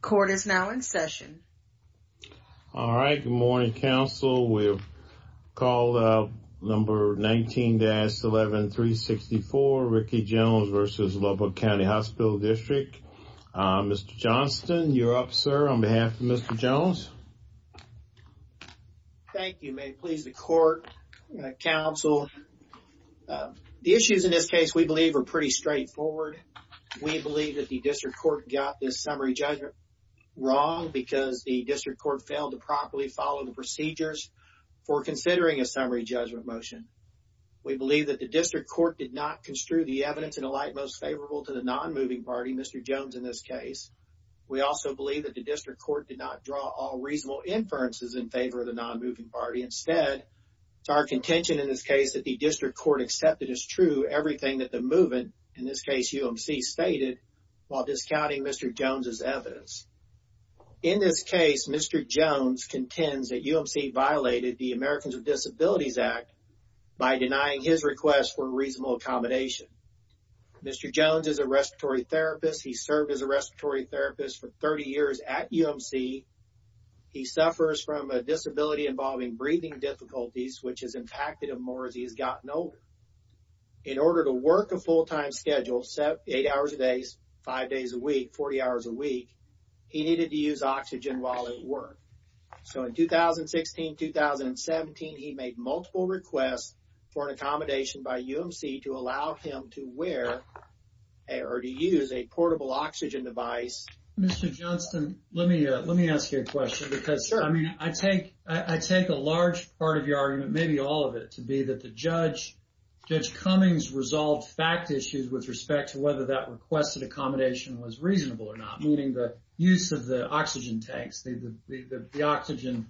Court is now in session. All right, good morning, counsel. We've called up number 19-11364, Ricky Jones v. Lubbock County Hospital District. Mr. Johnston, you're up, sir, on behalf of Mr. Jones. Thank you. May it please the court, counsel, the issues in this case we believe are pretty straightforward. We believe that the district court got this summary judgment wrong because the district court failed to properly follow the procedures for considering a summary judgment motion. We believe that the district court did not construe the evidence in a light most favorable to the non-moving party, Mr. Jones, in this case. We also believe that the district court did not draw all reasonable inferences in favor of the non-moving party. Instead, it's our contention in this case that the district Jones' evidence. In this case, Mr. Jones contends that UMC violated the Americans with Disabilities Act by denying his request for reasonable accommodation. Mr. Jones is a respiratory therapist. He served as a respiratory therapist for 30 years at UMC. He suffers from a disability involving breathing difficulties, which has impacted him more as he has. He needed to use oxygen while at work. In 2016 and 2017, he made multiple requests for an accommodation by UMC to allow him to use a portable oxygen device. Mr. Johnston, let me ask you a question. I take a large part of your argument, maybe all of it, to be that Judge Cummings resolved fact issues with respect to whether requested accommodation was reasonable or not, meaning the use of the oxygen tanks, the oxygen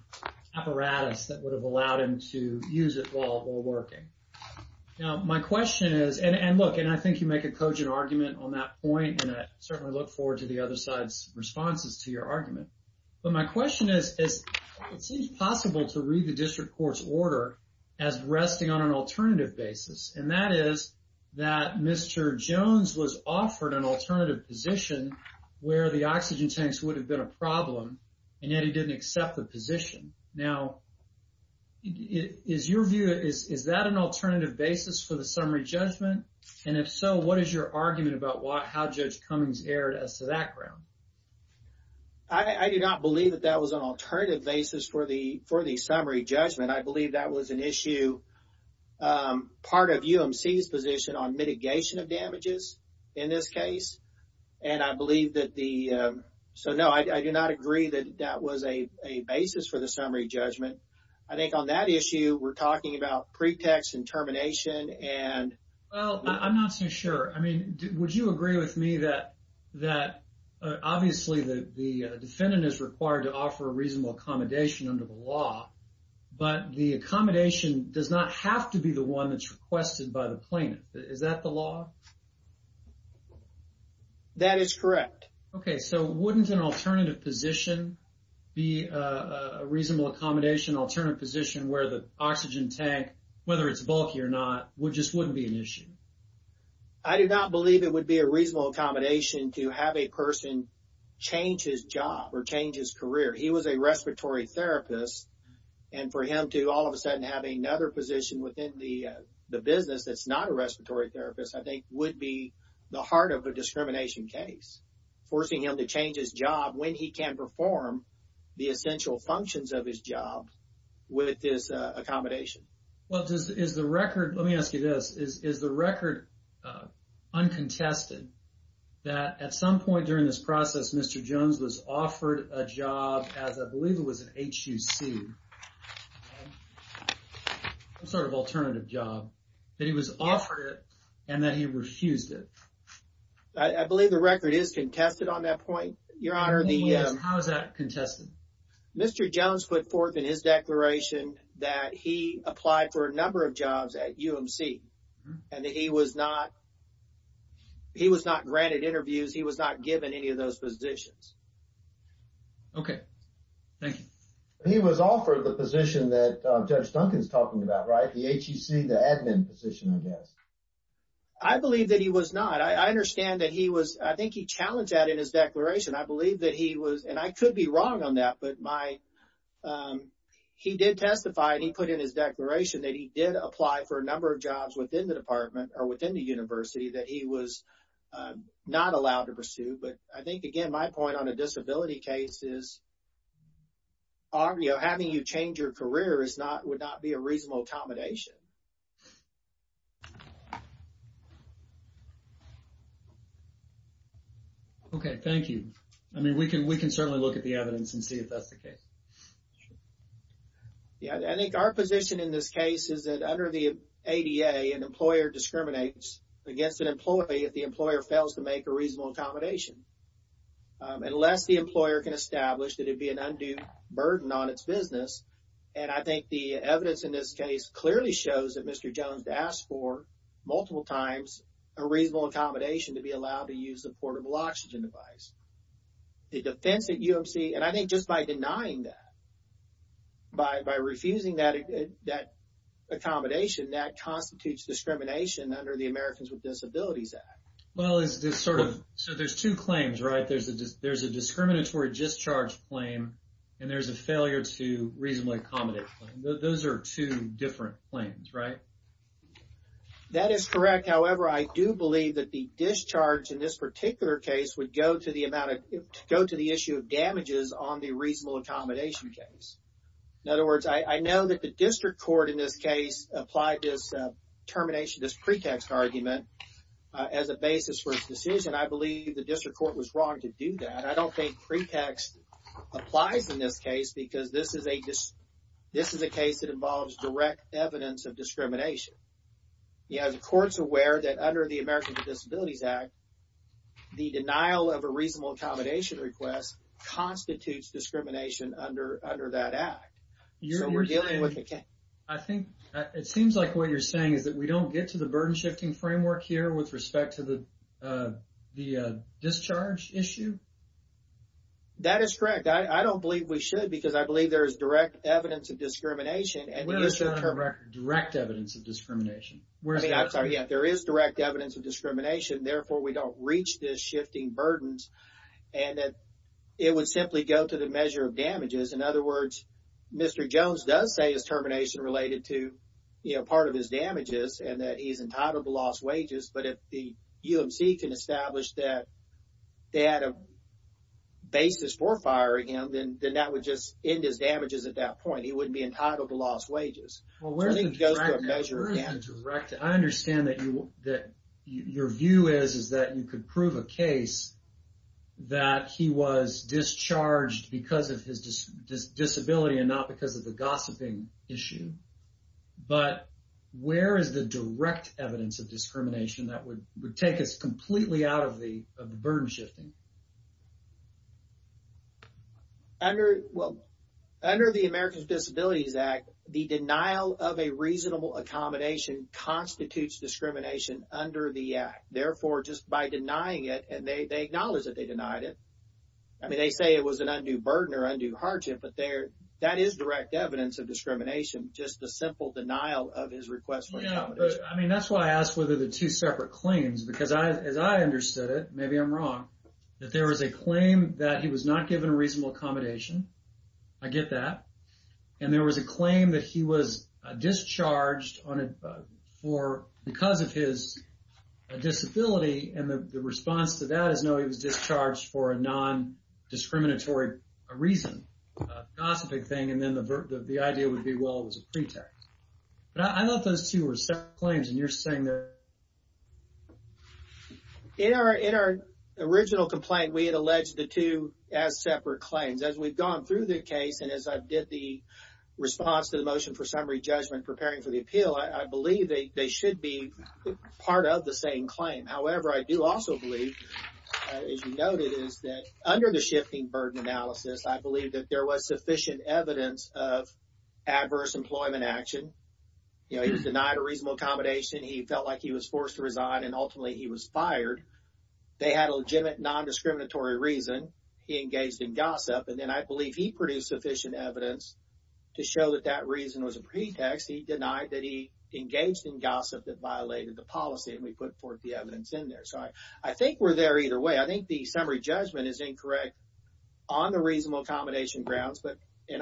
apparatus that would have allowed him to use it while working. I think you make a cogent argument on that point, and I certainly look forward to the other side's responses to your argument. My question is, it seems possible to read the district court's order as resting on an alternative basis, and that is that Mr. Jones was offered an alternative position where the oxygen tanks would have been a problem, and yet he didn't accept the position. Is that an alternative basis for the summary judgment? If so, what is your argument about how Judge Cummings erred as to that ground? I do not believe that that was an alternative basis for the summary judgment. I believe that was an issue part of UMC's position on mitigation of damages in this case. I do not agree that that was a basis for the summary judgment. I think on that issue, we're talking about pretext and termination. I'm not so sure. Would you agree with me that, obviously, the defendant is required to offer reasonable accommodation under the law, but the accommodation does not have to be the one that's requested by the plaintiff? Is that the law? That is correct. Okay. So, wouldn't an alternative position be a reasonable accommodation, an alternative position where the oxygen tank, whether it's bulky or not, just wouldn't be an issue? I do not believe it would be a reasonable accommodation to have a person change his job or change his career. He was a respiratory therapist, and for him to all of a sudden have another position within the business that's not a respiratory therapist, I think, would be the heart of a discrimination case, forcing him to change his job when he can perform the essential functions of his job with this accommodation. Well, let me ask you this. Is the record uncontested that at some point during this process, Mr. Jones was offered a job as I believe it was an HUC, some sort of alternative job, that he was offered it and that he refused it? I believe the record is contested on that point, Your Honor. How is that contested? Mr. Jones put forth in his declaration that he applied for a number of jobs at UMC and that he was not granted interviews, he was not given any of those positions. Okay. Thank you. He was offered the position that Judge Duncan's talking about, right? The HUC, the admin position, I guess. I believe that he was not. I understand that he was, I think he challenged that in his declaration. I believe that he was, and I could be wrong on that, but he did testify and he put in his declaration that he did apply for a number of jobs within the department or within the university that he was not allowed to pursue. But I think, again, my point on a disability case is having you change your career would not be a reasonable accommodation. Okay. Thank you. I mean, we can certainly look at the evidence and see if that's the case. Sure. Yeah, I think our position in this case is that under the ADA, an employer discriminates against an employee if the employer fails to make a reasonable accommodation. Unless the employer can establish that it'd be an undue burden on its business, and I think the evidence in this case clearly shows that Mr. Jones asked for multiple times a reasonable accommodation to be allowed to use a portable oxygen device. The defense at UMC, and I think just by denying that, by refusing that accommodation, that constitutes discrimination under the Americans with Disabilities Act. Well, is this sort of, so there's two claims, right? There's a discriminatory discharge claim and there's a failure to reasonably accommodate claim. Those are two different claims, right? That is correct. However, I do believe that the discharge in this particular case would go to the issue of damages on the reasonable accommodation case. In other words, I know that the district court in this case applied this termination, this pretext argument as a basis for its decision. I believe the district court was wrong to do that. I don't think pretext applies in this case because this is a case that involves direct evidence of discrimination. You know, the court's aware that under the Americans with Disabilities Act, the denial of a reasonable accommodation request constitutes discrimination under that act. You're saying, I think, it seems like what you're saying is that we don't get to the burden shifting framework here with respect to the discharge issue? That is correct. I don't believe we should because I believe there is direct evidence of discrimination. Where is the direct evidence of discrimination? There is direct evidence of discrimination. Therefore, we don't reach this shifting burden and it would simply go to the measure of damages. In other words, Mr. Jones does say his termination related to part of his damages and that he's entitled to lost wages. But if the UMC can establish that they had a basis for firing him, then that would just end his damages at that point. He wouldn't be entitled to lost wages. I think it goes to a measure of damages. I understand that your view is that you could prove a case that he was discharged because of his disability and not because of the gossiping issue. But where is the direct evidence of discrimination that would take us completely out of the burden shifting? Well, under the Americans with Disabilities Act, the denial of a reasonable accommodation constitutes discrimination under the act. Therefore, just by denying it and they acknowledge that they denied it. I mean, they say it was an undue burden or undue hardship, but that is direct evidence of discrimination. Just the simple denial of his request for accommodation. I mean, that's why I asked whether the two separate claims because as I understood it, maybe I'm wrong, that there was a claim that he was not given a reasonable accommodation. I get that. And there was a claim that he was discharged because of his disability. And the response to that is no, he was discharged for a non-discriminatory reason, a gossiping thing. And then the idea would be, well, it was a pretext. But I thought those two were separate claims. In our original complaint, we had alleged the two as separate claims. As we've gone through the case and as I did the response to the motion for summary judgment preparing for the appeal, I believe they should be part of the same claim. However, I do also believe, as you noted, is that under the shifting burden analysis, I believe that there was sufficient evidence of adverse employment action. You know, he was denied a reasonable accommodation. He felt like he was forced to resign. And ultimately, he was fired. They had a legitimate non-discriminatory reason. He engaged in gossip. And then I believe he produced sufficient evidence to show that that reason was a pretext. He denied that he engaged in gossip that violated the policy. And we put forth the evidence in there. So, I think we're there either way. I think the summary judgment is incorrect on the reasonable accommodation grounds. And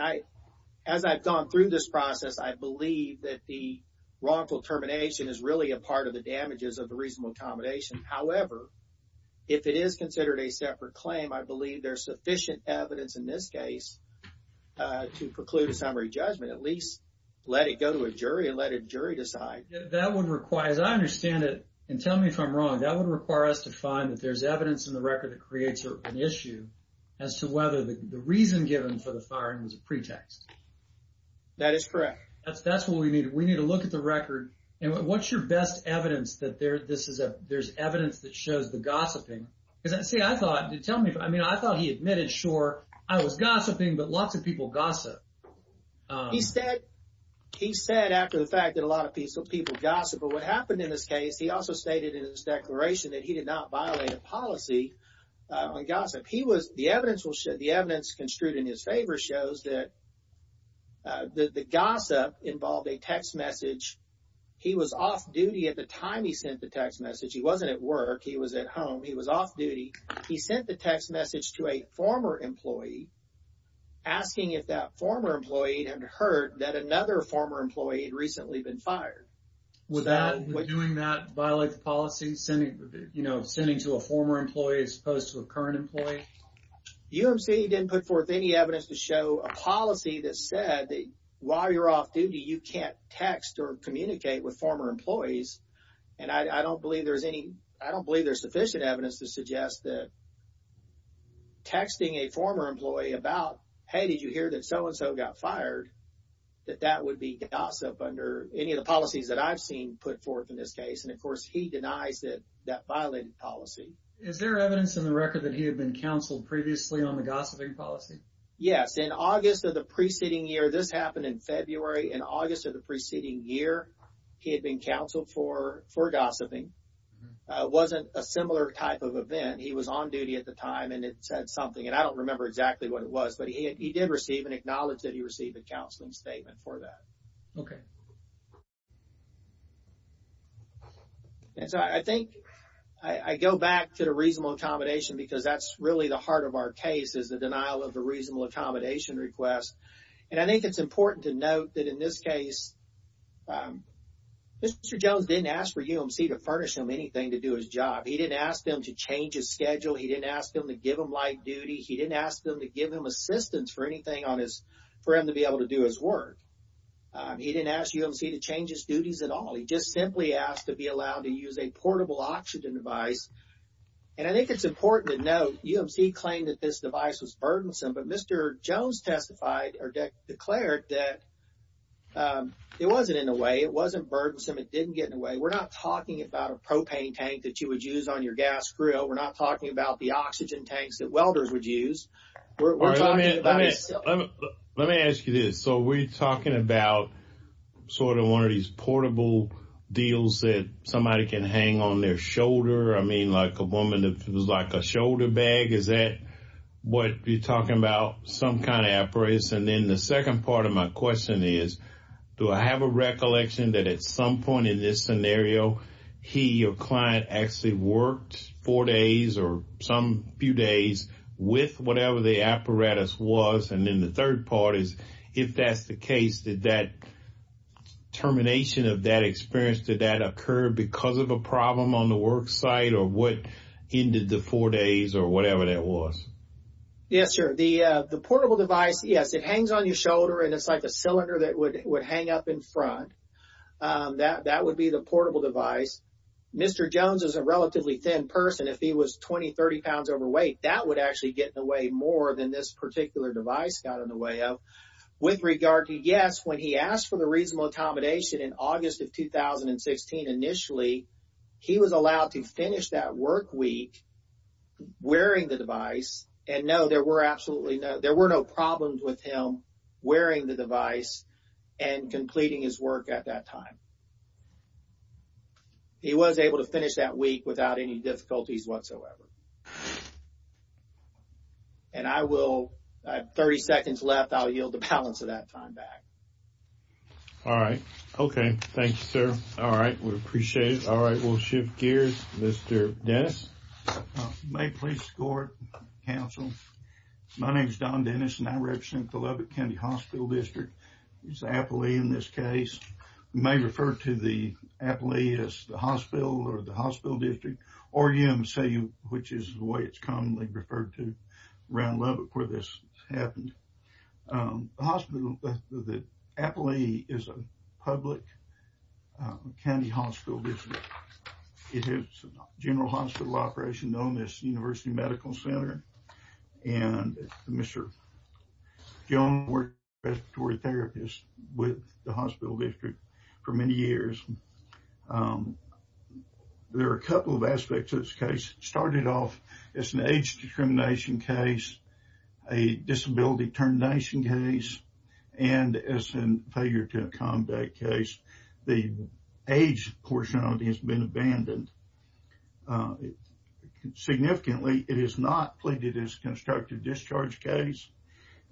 as I've gone through this process, I believe that the wrongful termination is really a part of the damages of the reasonable accommodation. However, if it is considered a separate claim, I believe there's sufficient evidence in this case to preclude a summary judgment. At least, let it go to a jury and let a jury decide. That would require, as I understand it, and tell me if I'm wrong, that would require us to find that there's evidence in the record that creates an issue as to whether the reason given for the firing was a pretext. That is correct. That's what we need. We need to look at the record. And what's your best evidence that there's evidence that shows the gossiping? Because, see, I thought, tell me, I mean, I thought he admitted, sure, I was gossiping, but lots of people gossip. He said after the fact that a lot of people gossip. But what happened in this case, he also stated in his declaration that he did not violate a policy on gossip. He was, the evidence construed in his favor shows that the gossip involved a text message. He was off duty at the time he sent the text message. He wasn't at work. He was at home. He was off duty. He sent the text message to a former employee, asking if that former employee had heard that another former employee had recently been fired. Would doing that violate the policy? You know, sending to a former employee as opposed to a UMC didn't put forth any evidence to show a policy that said that while you're off duty, you can't text or communicate with former employees. And I don't believe there's any, I don't believe there's sufficient evidence to suggest that texting a former employee about, hey, did you hear that so-and-so got fired, that that would be gossip under any of the policies that I've seen put forth in this case. And of course, he denies that that violated policy. Is there evidence in the record that he had been counseled previously on the gossiping policy? Yes. In August of the preceding year, this happened in February. In August of the preceding year, he had been counseled for gossiping. It wasn't a similar type of event. He was on duty at the time and it said something. And I don't remember exactly what it was, but he did receive and acknowledge that he received a counseling statement for that. Okay. And so I think I go back to the reasonable accommodation because that's really the heart of our case is the denial of the reasonable accommodation request. And I think it's important to note that in this case, Mr. Jones didn't ask for UMC to furnish him anything to do his job. He didn't ask them to change his schedule. He didn't ask them to give him light duty. He didn't ask them to give him assistance for anything on his, for him to be able to do his work. He didn't ask UMC to change his duties at all. He just simply asked to be allowed to use a portable oxygen device. And I think it's important to note, UMC claimed that this device was burdensome, but Mr. Jones testified or declared that it wasn't in a way, it wasn't burdensome. It didn't get in a way. We're not talking about a propane tank that you would use on your gas grill. We're not talking about the oxygen tanks that welders would use. We're talking about it. Let me ask you this. So we're talking about sort of one of these portable deals that somebody can hang on their shoulder. I mean, like a woman, if it was like a shoulder bag, is that what you're talking about? Some kind of apparatus. And then the second part of my question is, do I have a recollection that at some point in this was, and then the third part is, if that's the case, did that termination of that experience, did that occur because of a problem on the worksite or what ended the four days or whatever that was? Yes, sir. The portable device, yes, it hangs on your shoulder and it's like a cylinder that would hang up in front. That would be the portable device. Mr. Jones is a relatively thin person. If he was 20, 30 pounds overweight, that would actually get in the way more than this particular device got in the way of. With regard to, yes, when he asked for the reasonable accommodation in August of 2016 initially, he was allowed to finish that work week wearing the device. And no, there were absolutely no, there were no problems with him wearing the device and completing his work at that time. He was able to finish that week without any difficulties whatsoever. And I will, I have 30 seconds left. I'll yield the balance of that time back. All right. Okay. Thank you, sir. All right. We appreciate it. All right. We'll shift gears. Mr. Dennis. May I please escort counsel? My name is Don Dennis and I represent the Lubbock County Hospital District. It's Appalachee in this case. You may refer to the Appalachee as the hospital or the hospital district or EMCU, which is the way it's commonly referred to around Lubbock where this happened. The hospital, the Appalachee is a public county hospital district. It has a hospital operation known as University Medical Center. And Mr. Jones worked as a respiratory therapist with the hospital district for many years. There are a couple of aspects to this case. Started off as an age discrimination case, a disability termination case, and as a failure to accommodate case, the age portion of it has been abandoned. Significantly, it is not pleaded as a constructive discharge case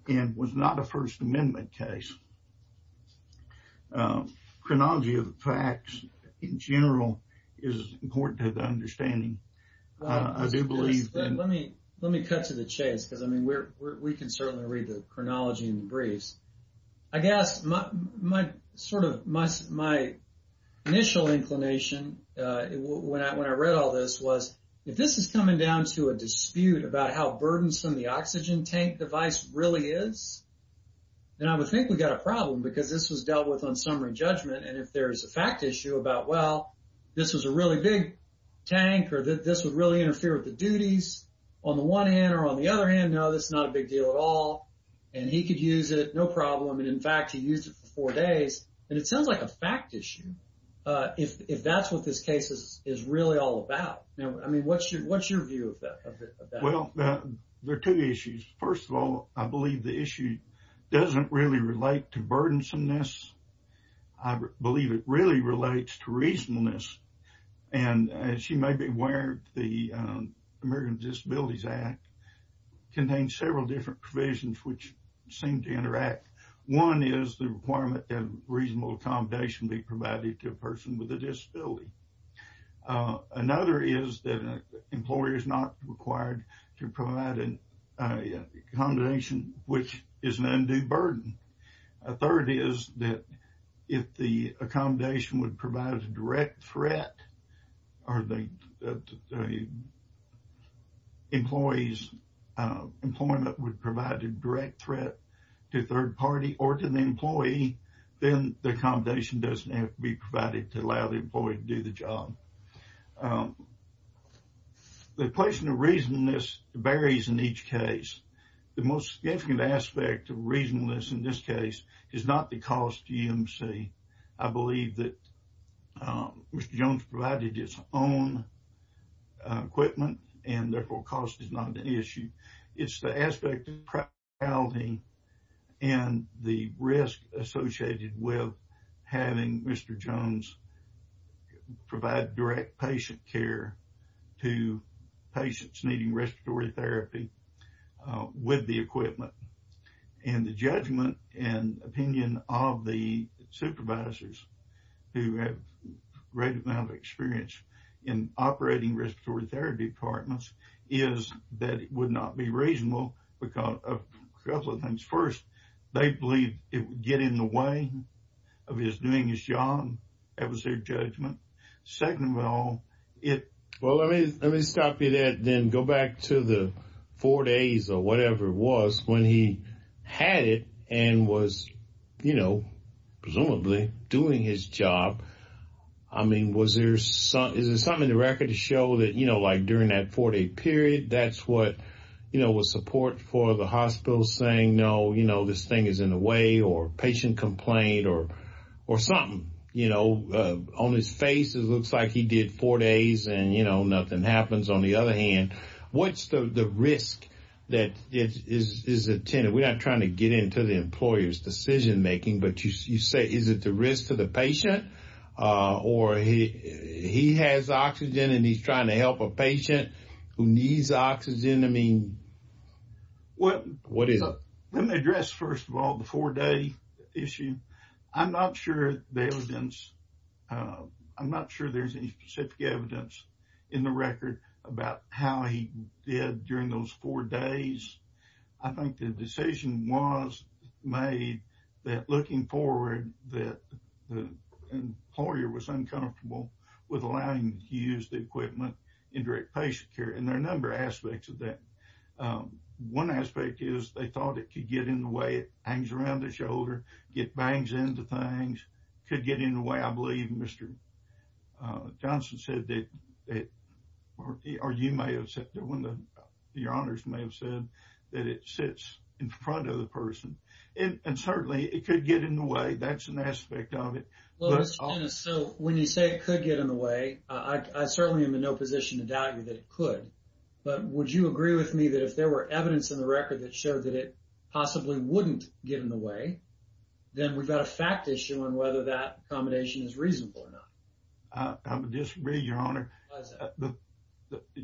and was not a first amendment case. Chronology of the facts in general is important to the understanding. I do believe that- Let me cut to the chase because I mean, we can certainly read the chronology in the briefs. I guess my initial inclination when I read all this was, if this is coming down to a dispute about how burdensome the oxygen tank device really is, then I would think we got a problem because this was dealt with on summary judgment. And if there's a fact issue about, well, this was a really big tank or that this would really interfere with the duties on the one hand or on the other hand, no, this is not a big deal at all. And he could use it, no problem. And in fact, he used it for four days. And it sounds like a fact issue if that's what this case is really all about. I mean, what's your view of that? Well, there are two issues. First of all, I believe the issue doesn't really relate to burdensomeness. I believe it really relates to reasonableness. And as you may be aware, the Americans with Disabilities Act contains several different provisions which seem to interact. One is the requirement that reasonable accommodation be provided to a person with a disability. Another is that an employer is not required to provide accommodation which is an undue burden. A third is that if the accommodation would provide a direct threat or the employee's employment would provide a direct threat to a third party or to the employee, then the accommodation doesn't have to be provided to allow the employee to do the job. The question of reasonableness varies in each case. The most significant aspect of reasonableness in this case is not the cost to EMC. I believe that Mr. Jones provided his own equipment, and therefore cost is not an issue. It's the aspect of priority and the risk associated with having Mr. Jones provide direct patient care to patients needing respiratory therapy with the equipment. The judgment and opinion of the supervisors who have a great amount of experience in operating respiratory therapy departments is that it would not be reasonable because of a couple of things. First, they believe it would get in the way of his doing his job. That was their judgment. Second of all, it... Well, let me stop you there and then go back to the four days or whatever it was when he had it and was, you know, presumably doing his job. I mean, was there something in the record to show that, you know, like during that four-day period that's what, you know, was support for the hospital saying, no, you know, this thing is in or patient complaint or something, you know, on his face it looks like he did four days and, you know, nothing happens. On the other hand, what's the risk that is attended? We're not trying to get into the employer's decision making, but you say, is it the risk to the patient or he has oxygen and he's trying to help a patient who needs oxygen? I mean, what is it? Let me address first of all the four-day issue. I'm not sure the evidence. I'm not sure there's any specific evidence in the record about how he did during those four days. I think the decision was made that looking forward that the employer was uncomfortable with allowing him to use the equipment in direct patient care. And there are a number of aspects of that. One aspect is they thought it could get in the way. It hangs around the shoulder, it bangs into things, could get in the way. I believe Mr. Johnson said that, or you may have said, your honors may have said, that it sits in front of the person. And certainly, it could get in the way. That's an aspect of it. But I'll- Well, Mr. Dennis, so when you say it could get in the way, I certainly am in no position to doubt you that it could. But would you agree with me that if there were evidence in the record that showed that it possibly wouldn't get in the way, then we've got a fact issue on whether that combination is reasonable or not? I would disagree, your honor. Why is that?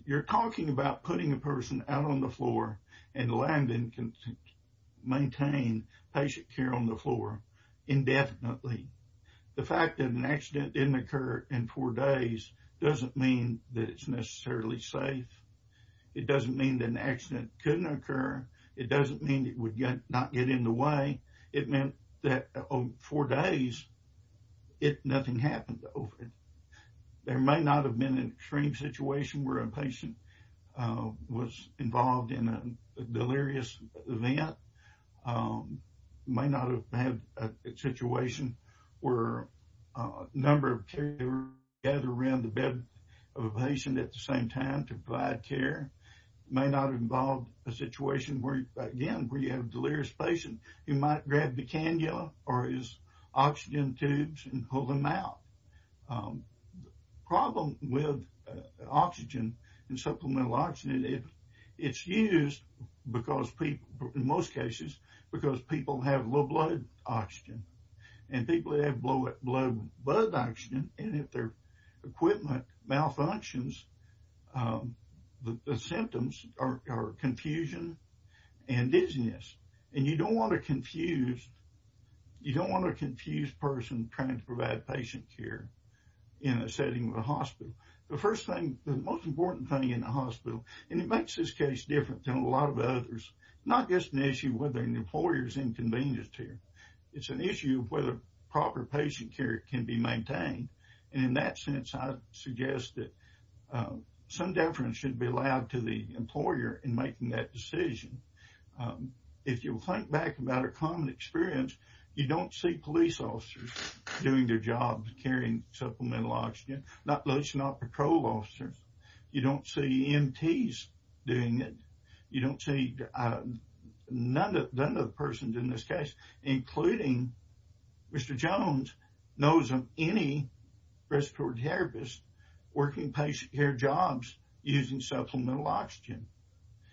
You're talking about putting a person out on the floor and allowing them to maintain patient care on the floor indefinitely. The fact that an accident didn't occur in four days doesn't mean that it's necessarily safe. It doesn't mean that an accident couldn't occur. It doesn't mean it would not get in the way. It meant that in four days, nothing happened over it. There may not have been an extreme situation where a patient was involved in a delirious event. It may not have been a situation where a number of care involved a situation where, again, you have a delirious patient. You might grab the cannula or his oxygen tubes and pull them out. The problem with oxygen and supplemental oxygen is that it's used in most cases because people have low blood oxygen. And people who have low blood oxygen, and if their equipment malfunctions, the symptoms are confusion and dizziness. And you don't want a confused person trying to provide patient care in a setting with a hospital. The first thing, the most important thing in a hospital, and it makes this case different than a lot of others, is not just an issue of whether an employer is inconvenienced here. It's an issue of whether proper patient care can be maintained. And in that sense, I suggest that some deference should be allowed to the employer in making that decision. If you think back about a common experience, you don't see police officers doing their job carrying supplemental oxygen. Not police, not patrol officers. You don't see EMTs doing it. You don't see none of the persons in this case, including Mr. Jones, knows of any respiratory therapist working patient care jobs using supplemental oxygen.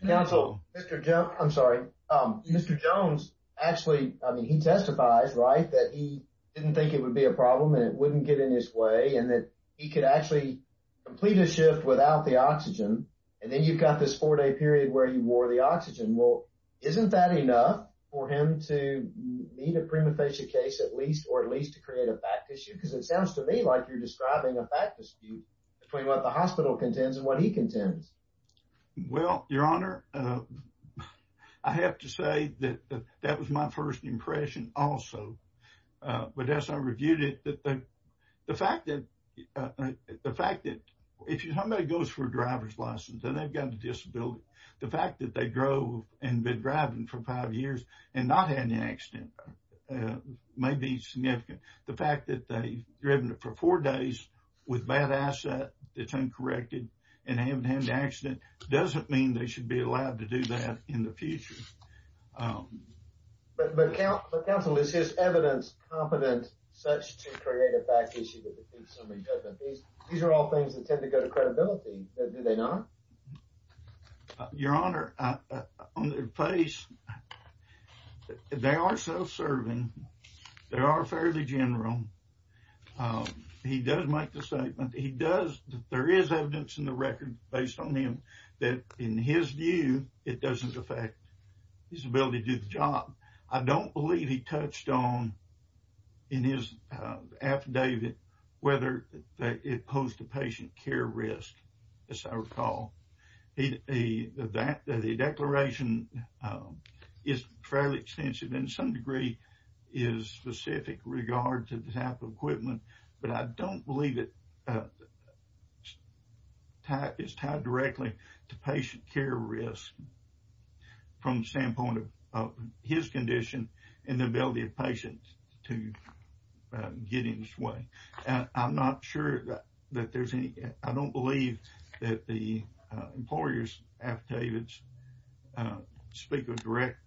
Counsel. Mr. Jones, I'm sorry. Mr. Jones actually, I mean, he testifies, right, that he didn't think it would be a problem and it wouldn't get in his way and that he could actually complete a shift without the oxygen. And then you've got this four-day period where you wore the oxygen. Well, isn't that enough for him to meet a prima facie case at least, or at least to create a fact issue? Because it sounds to me like you're describing a fact dispute between what the hospital contends and what he contends. Well, Your Honor, I have to say that that was my first impression also. But as I reviewed it, the fact that if somebody goes for a driver's license and they've got a disability, the fact that they drove and been driving for five years and not had an accident may be significant. The fact that they've driven for four days with bad asset that's uncorrected and haven't had an accident doesn't mean they should be allowed to do that in the future. But, counsel, is his evidence competent such to create a fact issue that defeats somebody? These are all things that tend to go to credibility, do they not? Your Honor, on their face, they are self-serving. They are fairly general. He does make the statement. He does. There is evidence in the record based on him that, in his view, it doesn't affect his ability to do the job. I don't believe he touched on in his affidavit whether it posed a patient care risk, as I recall. The declaration is fairly extensive and to some degree is specific regard to the type of equipment, but I don't believe it is tied directly to patient care risk from the standpoint of his condition and the ability of patients to get in this way. I don't believe that the employer's affidavits speak of direct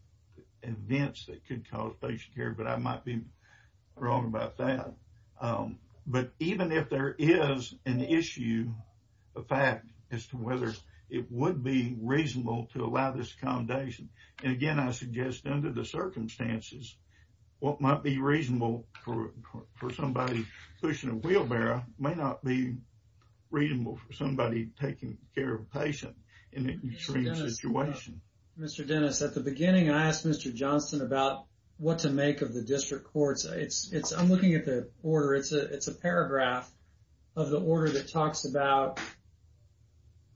events that could cause patient care, but I might be wrong about that. But even if there is an issue, a fact as to whether it would be reasonable to allow this accommodation, and again, I suggest under the circumstances, what might be reasonable for somebody pushing a wheelbarrow may not be reasonable for somebody taking care of a patient in an extreme situation. Mr. Dennis, at the beginning, I asked Mr. Johnston about what to make of the district courts. I'm looking at the order. It's a paragraph of the order that talks about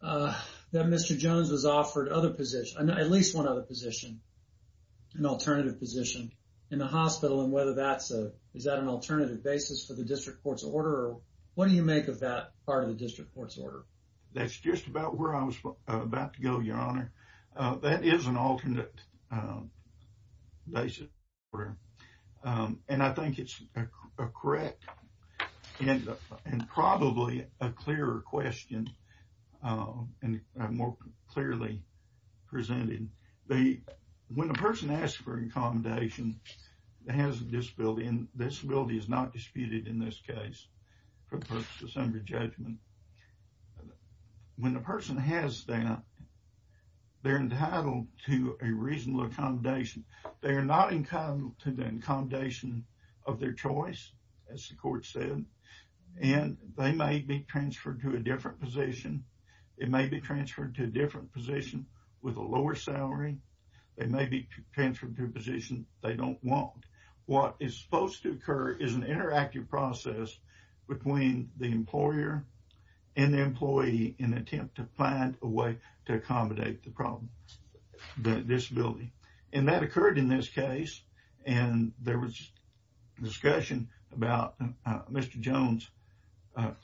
that Mr. Jones was offered at least one other position, an alternative position in the hospital. Is that an alternative basis for the district court's order? What do you make of that part of the district court's order? That's just about where I was about to go, Your Honor. That is an alternate basis for the district court's order. I think it's a correct and probably a clearer question and more clearly presented. When a person asks for accommodation that has a disability, and disability is not disputed in this case for post-December judgment, when a person has that, they are entitled to a reasonable accommodation. They are not entitled to the accommodation of their choice, as the court said, and they may be transferred to a different position. They may be transferred to a different position with a lower salary. They may be transferred to a position they don't want. What is supposed to occur is an interactive process between the employer and the employee in an attempt to find a way to accommodate the disability. That occurred in this case. There was discussion about Mr. Jones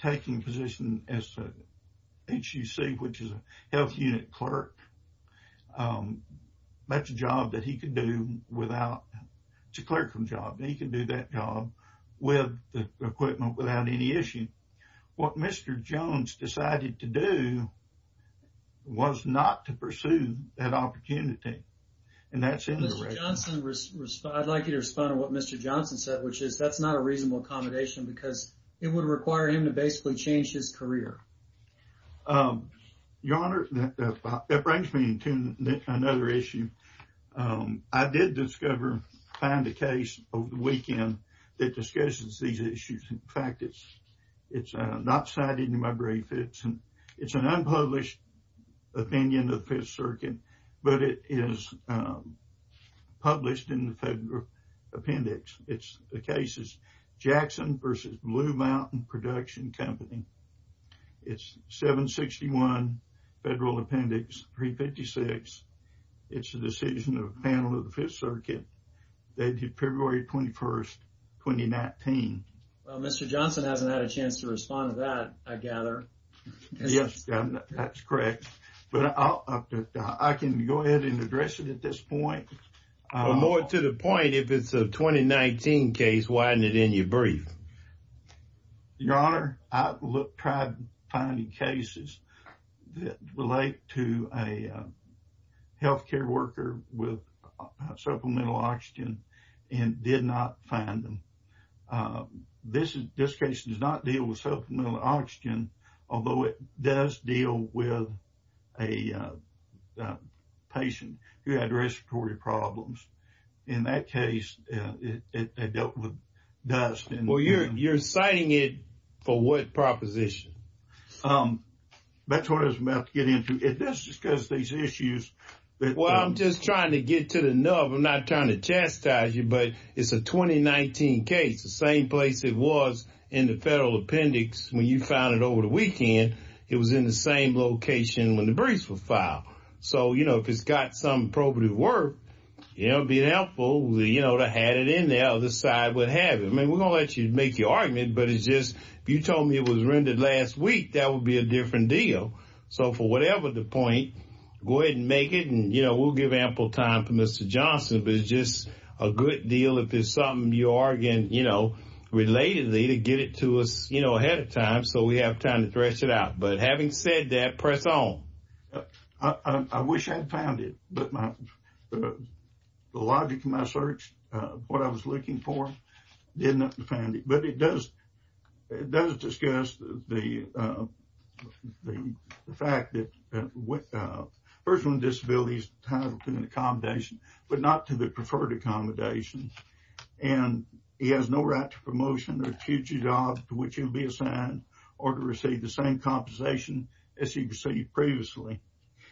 taking a position as an HUC, which is a health unit clerk. It's a clerical job, and he could do that job with the equipment without any issue. What Mr. Jones decided to do was not to pursue that opportunity, and that's in the record. I'd like you to respond to what Mr. Jones said, which is that's not a reasonable accommodation because it would require him to basically change his career. Your Honor, that brings me to another issue. I did find a case over the weekend that discusses these issues. In fact, it's not cited in my brief. It's an unpublished opinion of the Fifth Circuit, but it is published in the Federal Appendix. The case is Jackson v. Blue Mountain Production Company. It's 761 Federal Appendix 356. It's a decision of a panel of the Fifth Circuit dated February 21, 2019. Well, Mr. Johnson hasn't had a chance to respond to that, I gather. Yes, that's correct, but I can go ahead and address it at this point. More to the point, if it's a 2019 case, why isn't it in your brief? Your Honor, I tried finding cases that relate to a health care worker with supplemental oxygen and did not find them. This case does not deal with supplemental oxygen, although it does deal with a patient who had respiratory problems. In that case, it dealt with dust. Well, you're citing it for what proposition? That's what I was about to get into. It does discuss these issues. Well, I'm just trying to get to the nub. I'm not trying to chastise you, but it's a 2019 case, the same place it was in the Federal Appendix when you found it over the debris profile. So, if it's got some probative work, it would be helpful to have it in there or the side would have it. I mean, we're going to let you make your argument, but it's just, if you told me it was rendered last week, that would be a different deal. So, for whatever the point, go ahead and make it, and we'll give ample time for Mr. Johnson, but it's just a good deal if there's something you're arguing, you know, relatedly to get it to us ahead of time so we have time to thresh it out. But having said that, press on. I wish I had found it, but the logic of my search, what I was looking for, did not find it. But it does discuss the fact that a person with a disability is entitled to an accommodation, but not to the preferred accommodation, and he has no right to promotion or future job to which he will be assigned or to receive the same compensation as he received previously.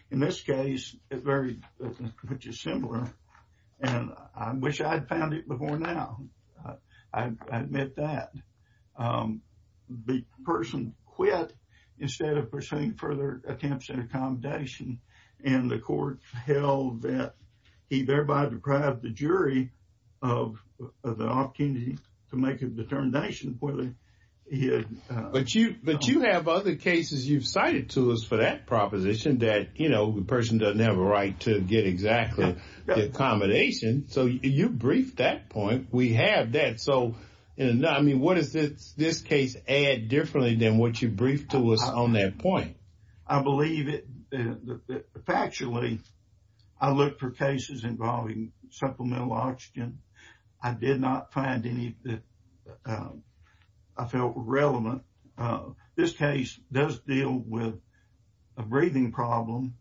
In this case, it's very similar, and I wish I had found it before now. I admit that. The person quit instead of pursuing further attempts at accommodation, and the court held that he thereby deprived the jury of the opportunity to make a determination whether he had. But you have other cases you've cited to us for that proposition that, you know, the person doesn't have a right to get exactly the accommodation. So, you briefed that point. We have that. So, I mean, what does this case add differently than what you briefed to us on that point? I believe it. Factually, I looked for cases involving supplemental oxygen. I did not find any that I felt were relevant. This case does deal with a breathing problem,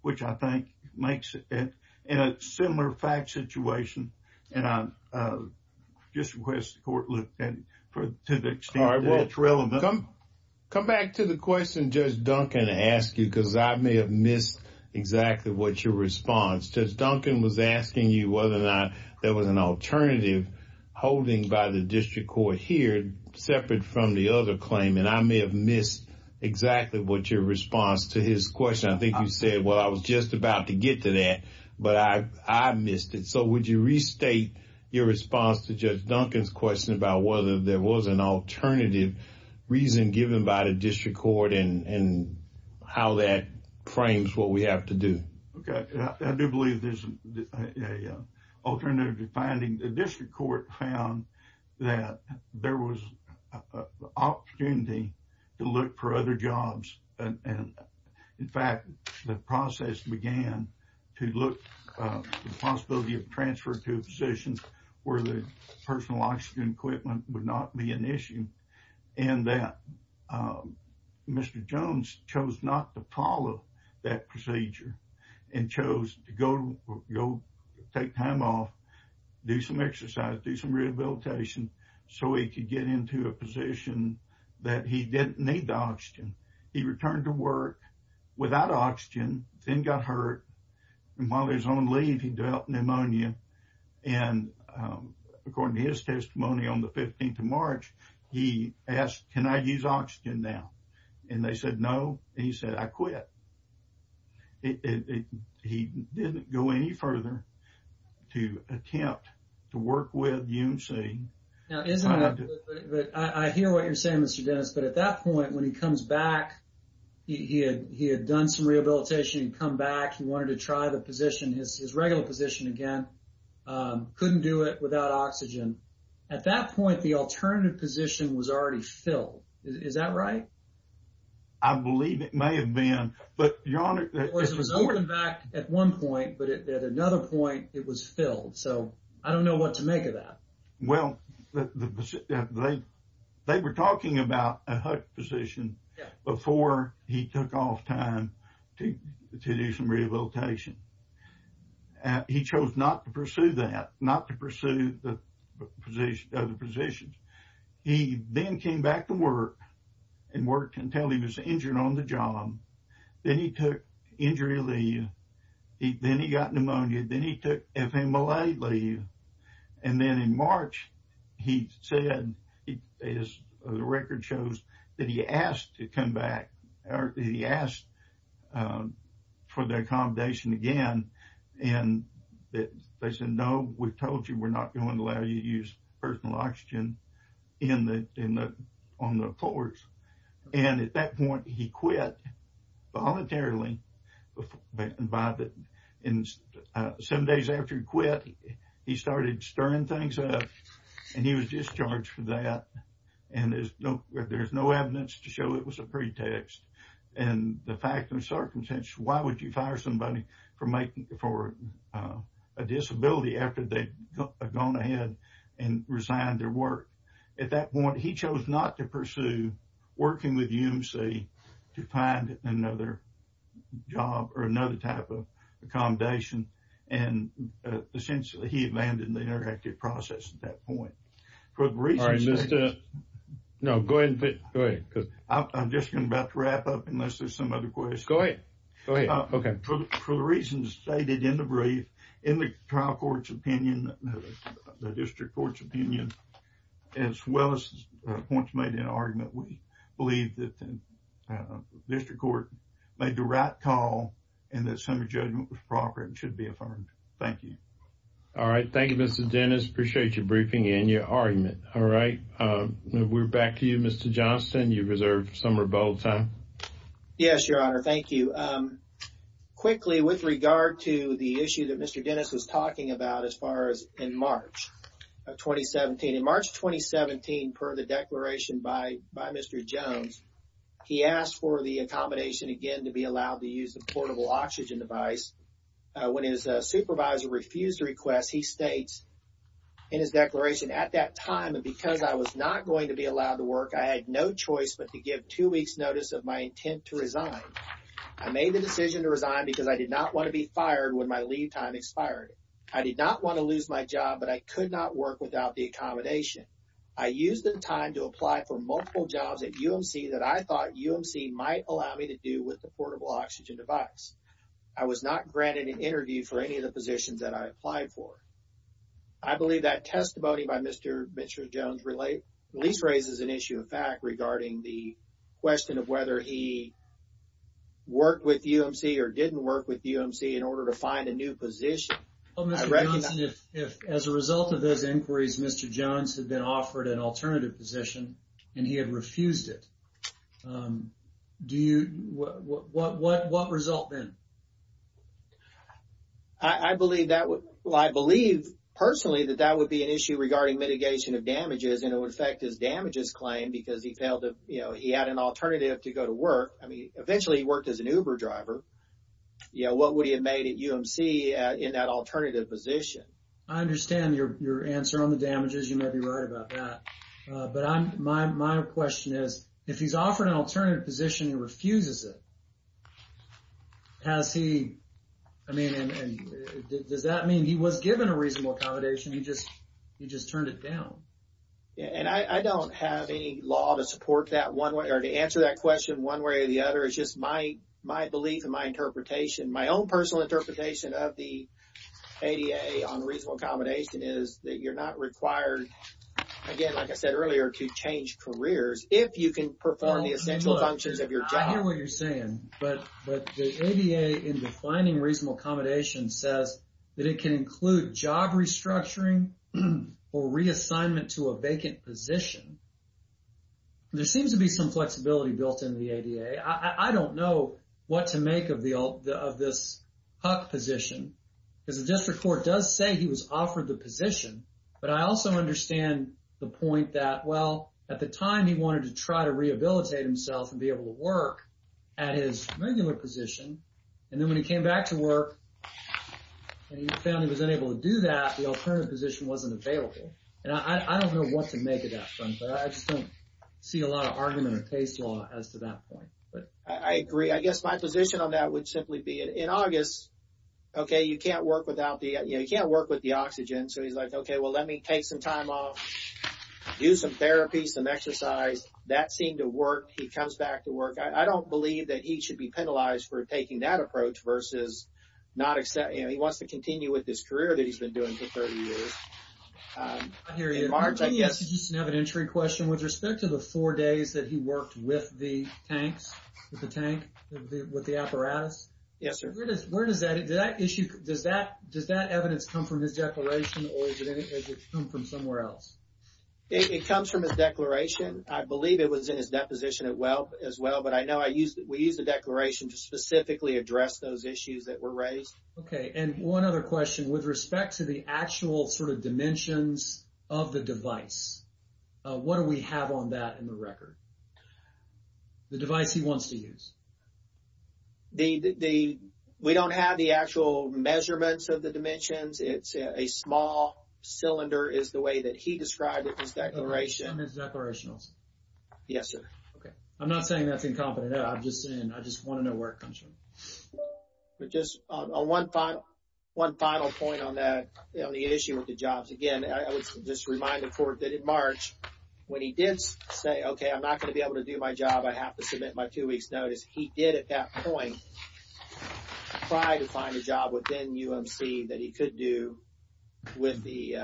which I think makes it in a similar fact situation, and I just request the court look to the extent that it's possible. Judge Duncan was asking you whether or not there was an alternative holding by the district court here separate from the other claim, and I may have missed exactly what your response to his question. I think you said, well, I was just about to get to that, but I missed it. So, would you restate your response to Judge Duncan's question about whether there was an alternative reason given by the district court and how that frames what we have to do? Okay. I do believe there's an alternative finding. The district court found that there was an opportunity to look for other jobs, and in fact, the process began to look for the possibility of transfer to a position where the personal oxygen equipment would not be an issue. And that Mr. Jones chose not to follow that procedure and chose to go take time off, do some exercise, do some rehabilitation, so he could get into a position that he didn't need the oxygen. He returned to work without oxygen, then got hurt, and while he was on leave, he developed pneumonia, and according to his testimony on the 15th of March, he asked, can I use oxygen now? And they said no, and he said, I quit. He didn't go any further to attempt to work with UNC. Now, isn't that, I hear what you're saying, Mr. Dennis, but at that point, when he comes back, he had done some rehabilitation, he'd come back, he wanted to try the position, his regular position again, couldn't do it without oxygen. At that point, the alternative position was already filled. Is that right? I believe it may have been, but your honor- Of course, it was opened back at one point, but at another point, it was filled, so I don't know what to make of that. Well, they were talking about a hut position before he took off time to do some rehabilitation. He chose not to pursue that, not to pursue the position, other positions. He then came back to work and worked until he was injured on the job, then he took injury leave, then he got pneumonia, then he took FMLA leave, and then in March, he said, as the record shows, that he asked to come back. He asked for the accommodation again, and they said, no, we told you we're not going to allow you to use personal oxygen on the floors. At that point, he quit voluntarily. Seven days after he quit, he started stirring things up, and he was discharged from that. There's no evidence to show it was a pretext. The fact of the circumstance, why would you fire somebody for a disability after they've gone ahead and resigned their work? At that point, he chose not to pursue working with UMC to find another job or another type of accommodation, and essentially, he abandoned the interactive process at that point. All right. No, go ahead. I'm just about to wrap up unless there's some other questions. Go ahead. Go ahead. Okay. For the reasons stated in the brief, in the trial court's opinion, the district court's opinion, as well as the points made in the argument, we believe that the district court made the right call and that some of the judgment was proper and should be affirmed. Thank you. All right. Thank you, Mr. Dennis. Appreciate your briefing and your argument. All right. We're back to you, Mr. Johnston. You've reserved some rebuttal time. Yes, Your Honor. Thank you. Quickly, with regard to the issue that Mr. Dennis was talking about as far as in March of 2017, in March 2017, per the declaration by Mr. Jones, he asked for the accommodation, again, to be allowed to use the portable oxygen device. When his supervisor refused the request, he states in his declaration, at that time, because I was not going to be allowed to work, I had no choice but to give two weeks' notice of my intent to resign. I made the decision to resign because I did not want to be fired when my leave time expired. I did not want to lose my job, but I could not work without the accommodation. I used the time to apply for multiple jobs at UMC that I thought UMC might allow me to do with the portable oxygen device. I was not granted an interview for any of the positions that I applied for. I believe that testimony by Mr. Jones at least raises an issue of fact regarding the question of whether he worked with UMC or didn't work with UMC in order to find a new position. Mr. Johnson, as a result of those inquiries, Mr. Jones had been offered an alternative position and he had refused it. What result then? I believe, personally, that that would be an issue regarding mitigation of damages, and it would affect his damages claim because he had an alternative to go to work. I mean, I understand your answer on the damages. You may be right about that, but my question is, if he's offered an alternative position and refuses it, does that mean he was given a reasonable accommodation? He just turned it down. I don't have any law to support that one way or to answer that question one way or the other. It's my belief and my interpretation. My own personal interpretation of the ADA on reasonable accommodation is that you're not required, again, like I said earlier, to change careers if you can perform the essential functions of your job. I hear what you're saying, but the ADA in defining reasonable accommodation says that it can include job restructuring or reassignment to a vacant position. There seems to be some flexibility built into the ADA. I don't know what to make of this HUC position because the district court does say he was offered the position, but I also understand the point that, well, at the time he wanted to try to rehabilitate himself and be able to work at his regular position, and then when he came back to work and he found he was unable to do that, the alternative position wasn't available. And I don't know what to make of that, but I just don't see a lot of argument or case law as to that point. I agree. I guess my position on that would simply be in August, okay, you can't work without the, you know, you can't work with the oxygen. So he's like, okay, well, let me take some time off, do some therapy, some exercise. That seemed to work. He comes back to work. I don't believe that he should be penalized for taking that approach versus not accepting, you know, he wants to continue with this career that he's been doing for 30 years. I hear you. I have an entry question with respect to the four days that he worked with the tanks, with the tank, with the apparatus. Yes, sir. Where does that, does that issue, does that, does that evidence come from his declaration or does it come from somewhere else? It comes from his declaration. I believe it was in his deposition as well, but I know I use, we use the declaration to specifically address those issues that were actual sort of dimensions of the device. What do we have on that in the record? The device he wants to use. The, we don't have the actual measurements of the dimensions. It's a small cylinder is the way that he described it in his declaration. In his declaration also? Yes, sir. Okay. I'm not saying that's incompetent. I'm just saying, I just want to know where it comes from. But just on one final, one final point on that, on the issue with the jobs. Again, I would just remind the court that in March, when he did say, okay, I'm not going to be able to do my job. I have to submit my two weeks notice. He did at that point try to find a job within UMC that he could do with the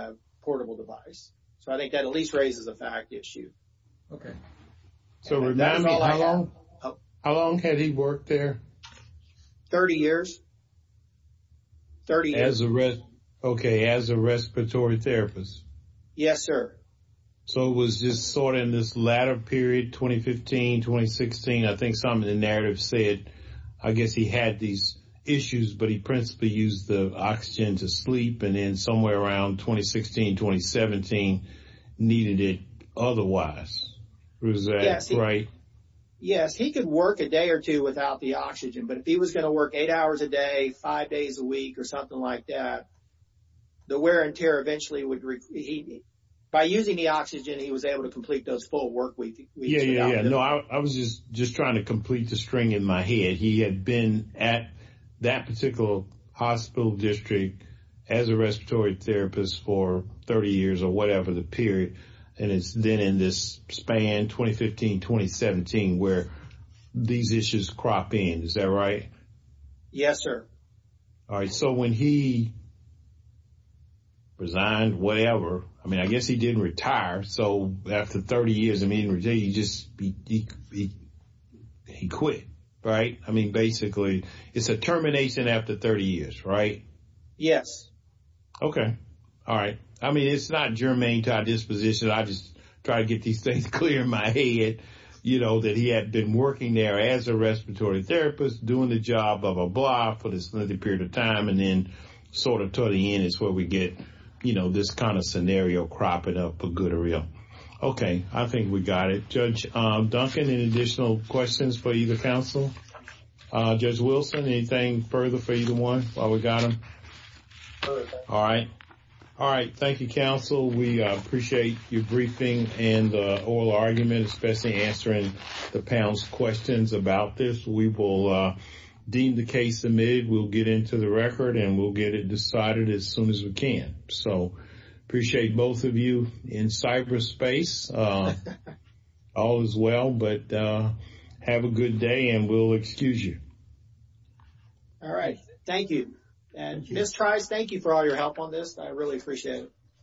portable device. So I think that at least raises a fact issue. Okay. So remind me, how long, how long had he worked there? 30 years. 30 years. As a, okay, as a respiratory therapist? Yes, sir. So it was just sort of in this latter period, 2015, 2016, I think something in the narrative said, I guess he had these issues, but he principally used the oxygen to sleep. And somewhere around 2016, 2017, he needed it otherwise. Was that right? Yes. He could work a day or two without the oxygen, but if he was going to work eight hours a day, five days a week or something like that, the wear and tear eventually would, by using the oxygen, he was able to complete those full workweeks. Yeah, yeah, yeah. No, I was just trying to complete the string in my head. He had been at that particular hospital district as a respiratory therapist for 30 years or whatever the period. And it's then in this span, 2015, 2017, where these issues crop in. Is that right? Yes, sir. All right. So when he resigned, whatever, I mean, I guess he didn't retire. So after 30 years, I mean, he just, he quit, right? I mean, basically, it's a termination after 30 years, right? Yes. Okay. All right. I mean, it's not germane to our disposition. I just try to get these things clear in my head, you know, that he had been working there as a respiratory therapist, doing the job, blah, blah, blah, for this lengthy period of time. And then sort of to the end is where we get, you know, this kind of scenario cropping up for good or real. Okay. I think we got it. Judge Duncan, any additional questions for you, the counsel? Judge Wilson, anything further for either one while we got them? All right. All right. Thank you, counsel. We appreciate your briefing and the oral argument, especially answering the panel's questions about this. We will deem the case admitted, we'll get into the record, and we'll get it decided as soon as we can. So appreciate both you in cyberspace. All is well, but have a good day and we'll excuse you. All right. Thank you. And Ms. Trice, thank you for all your help on this. I really appreciate it.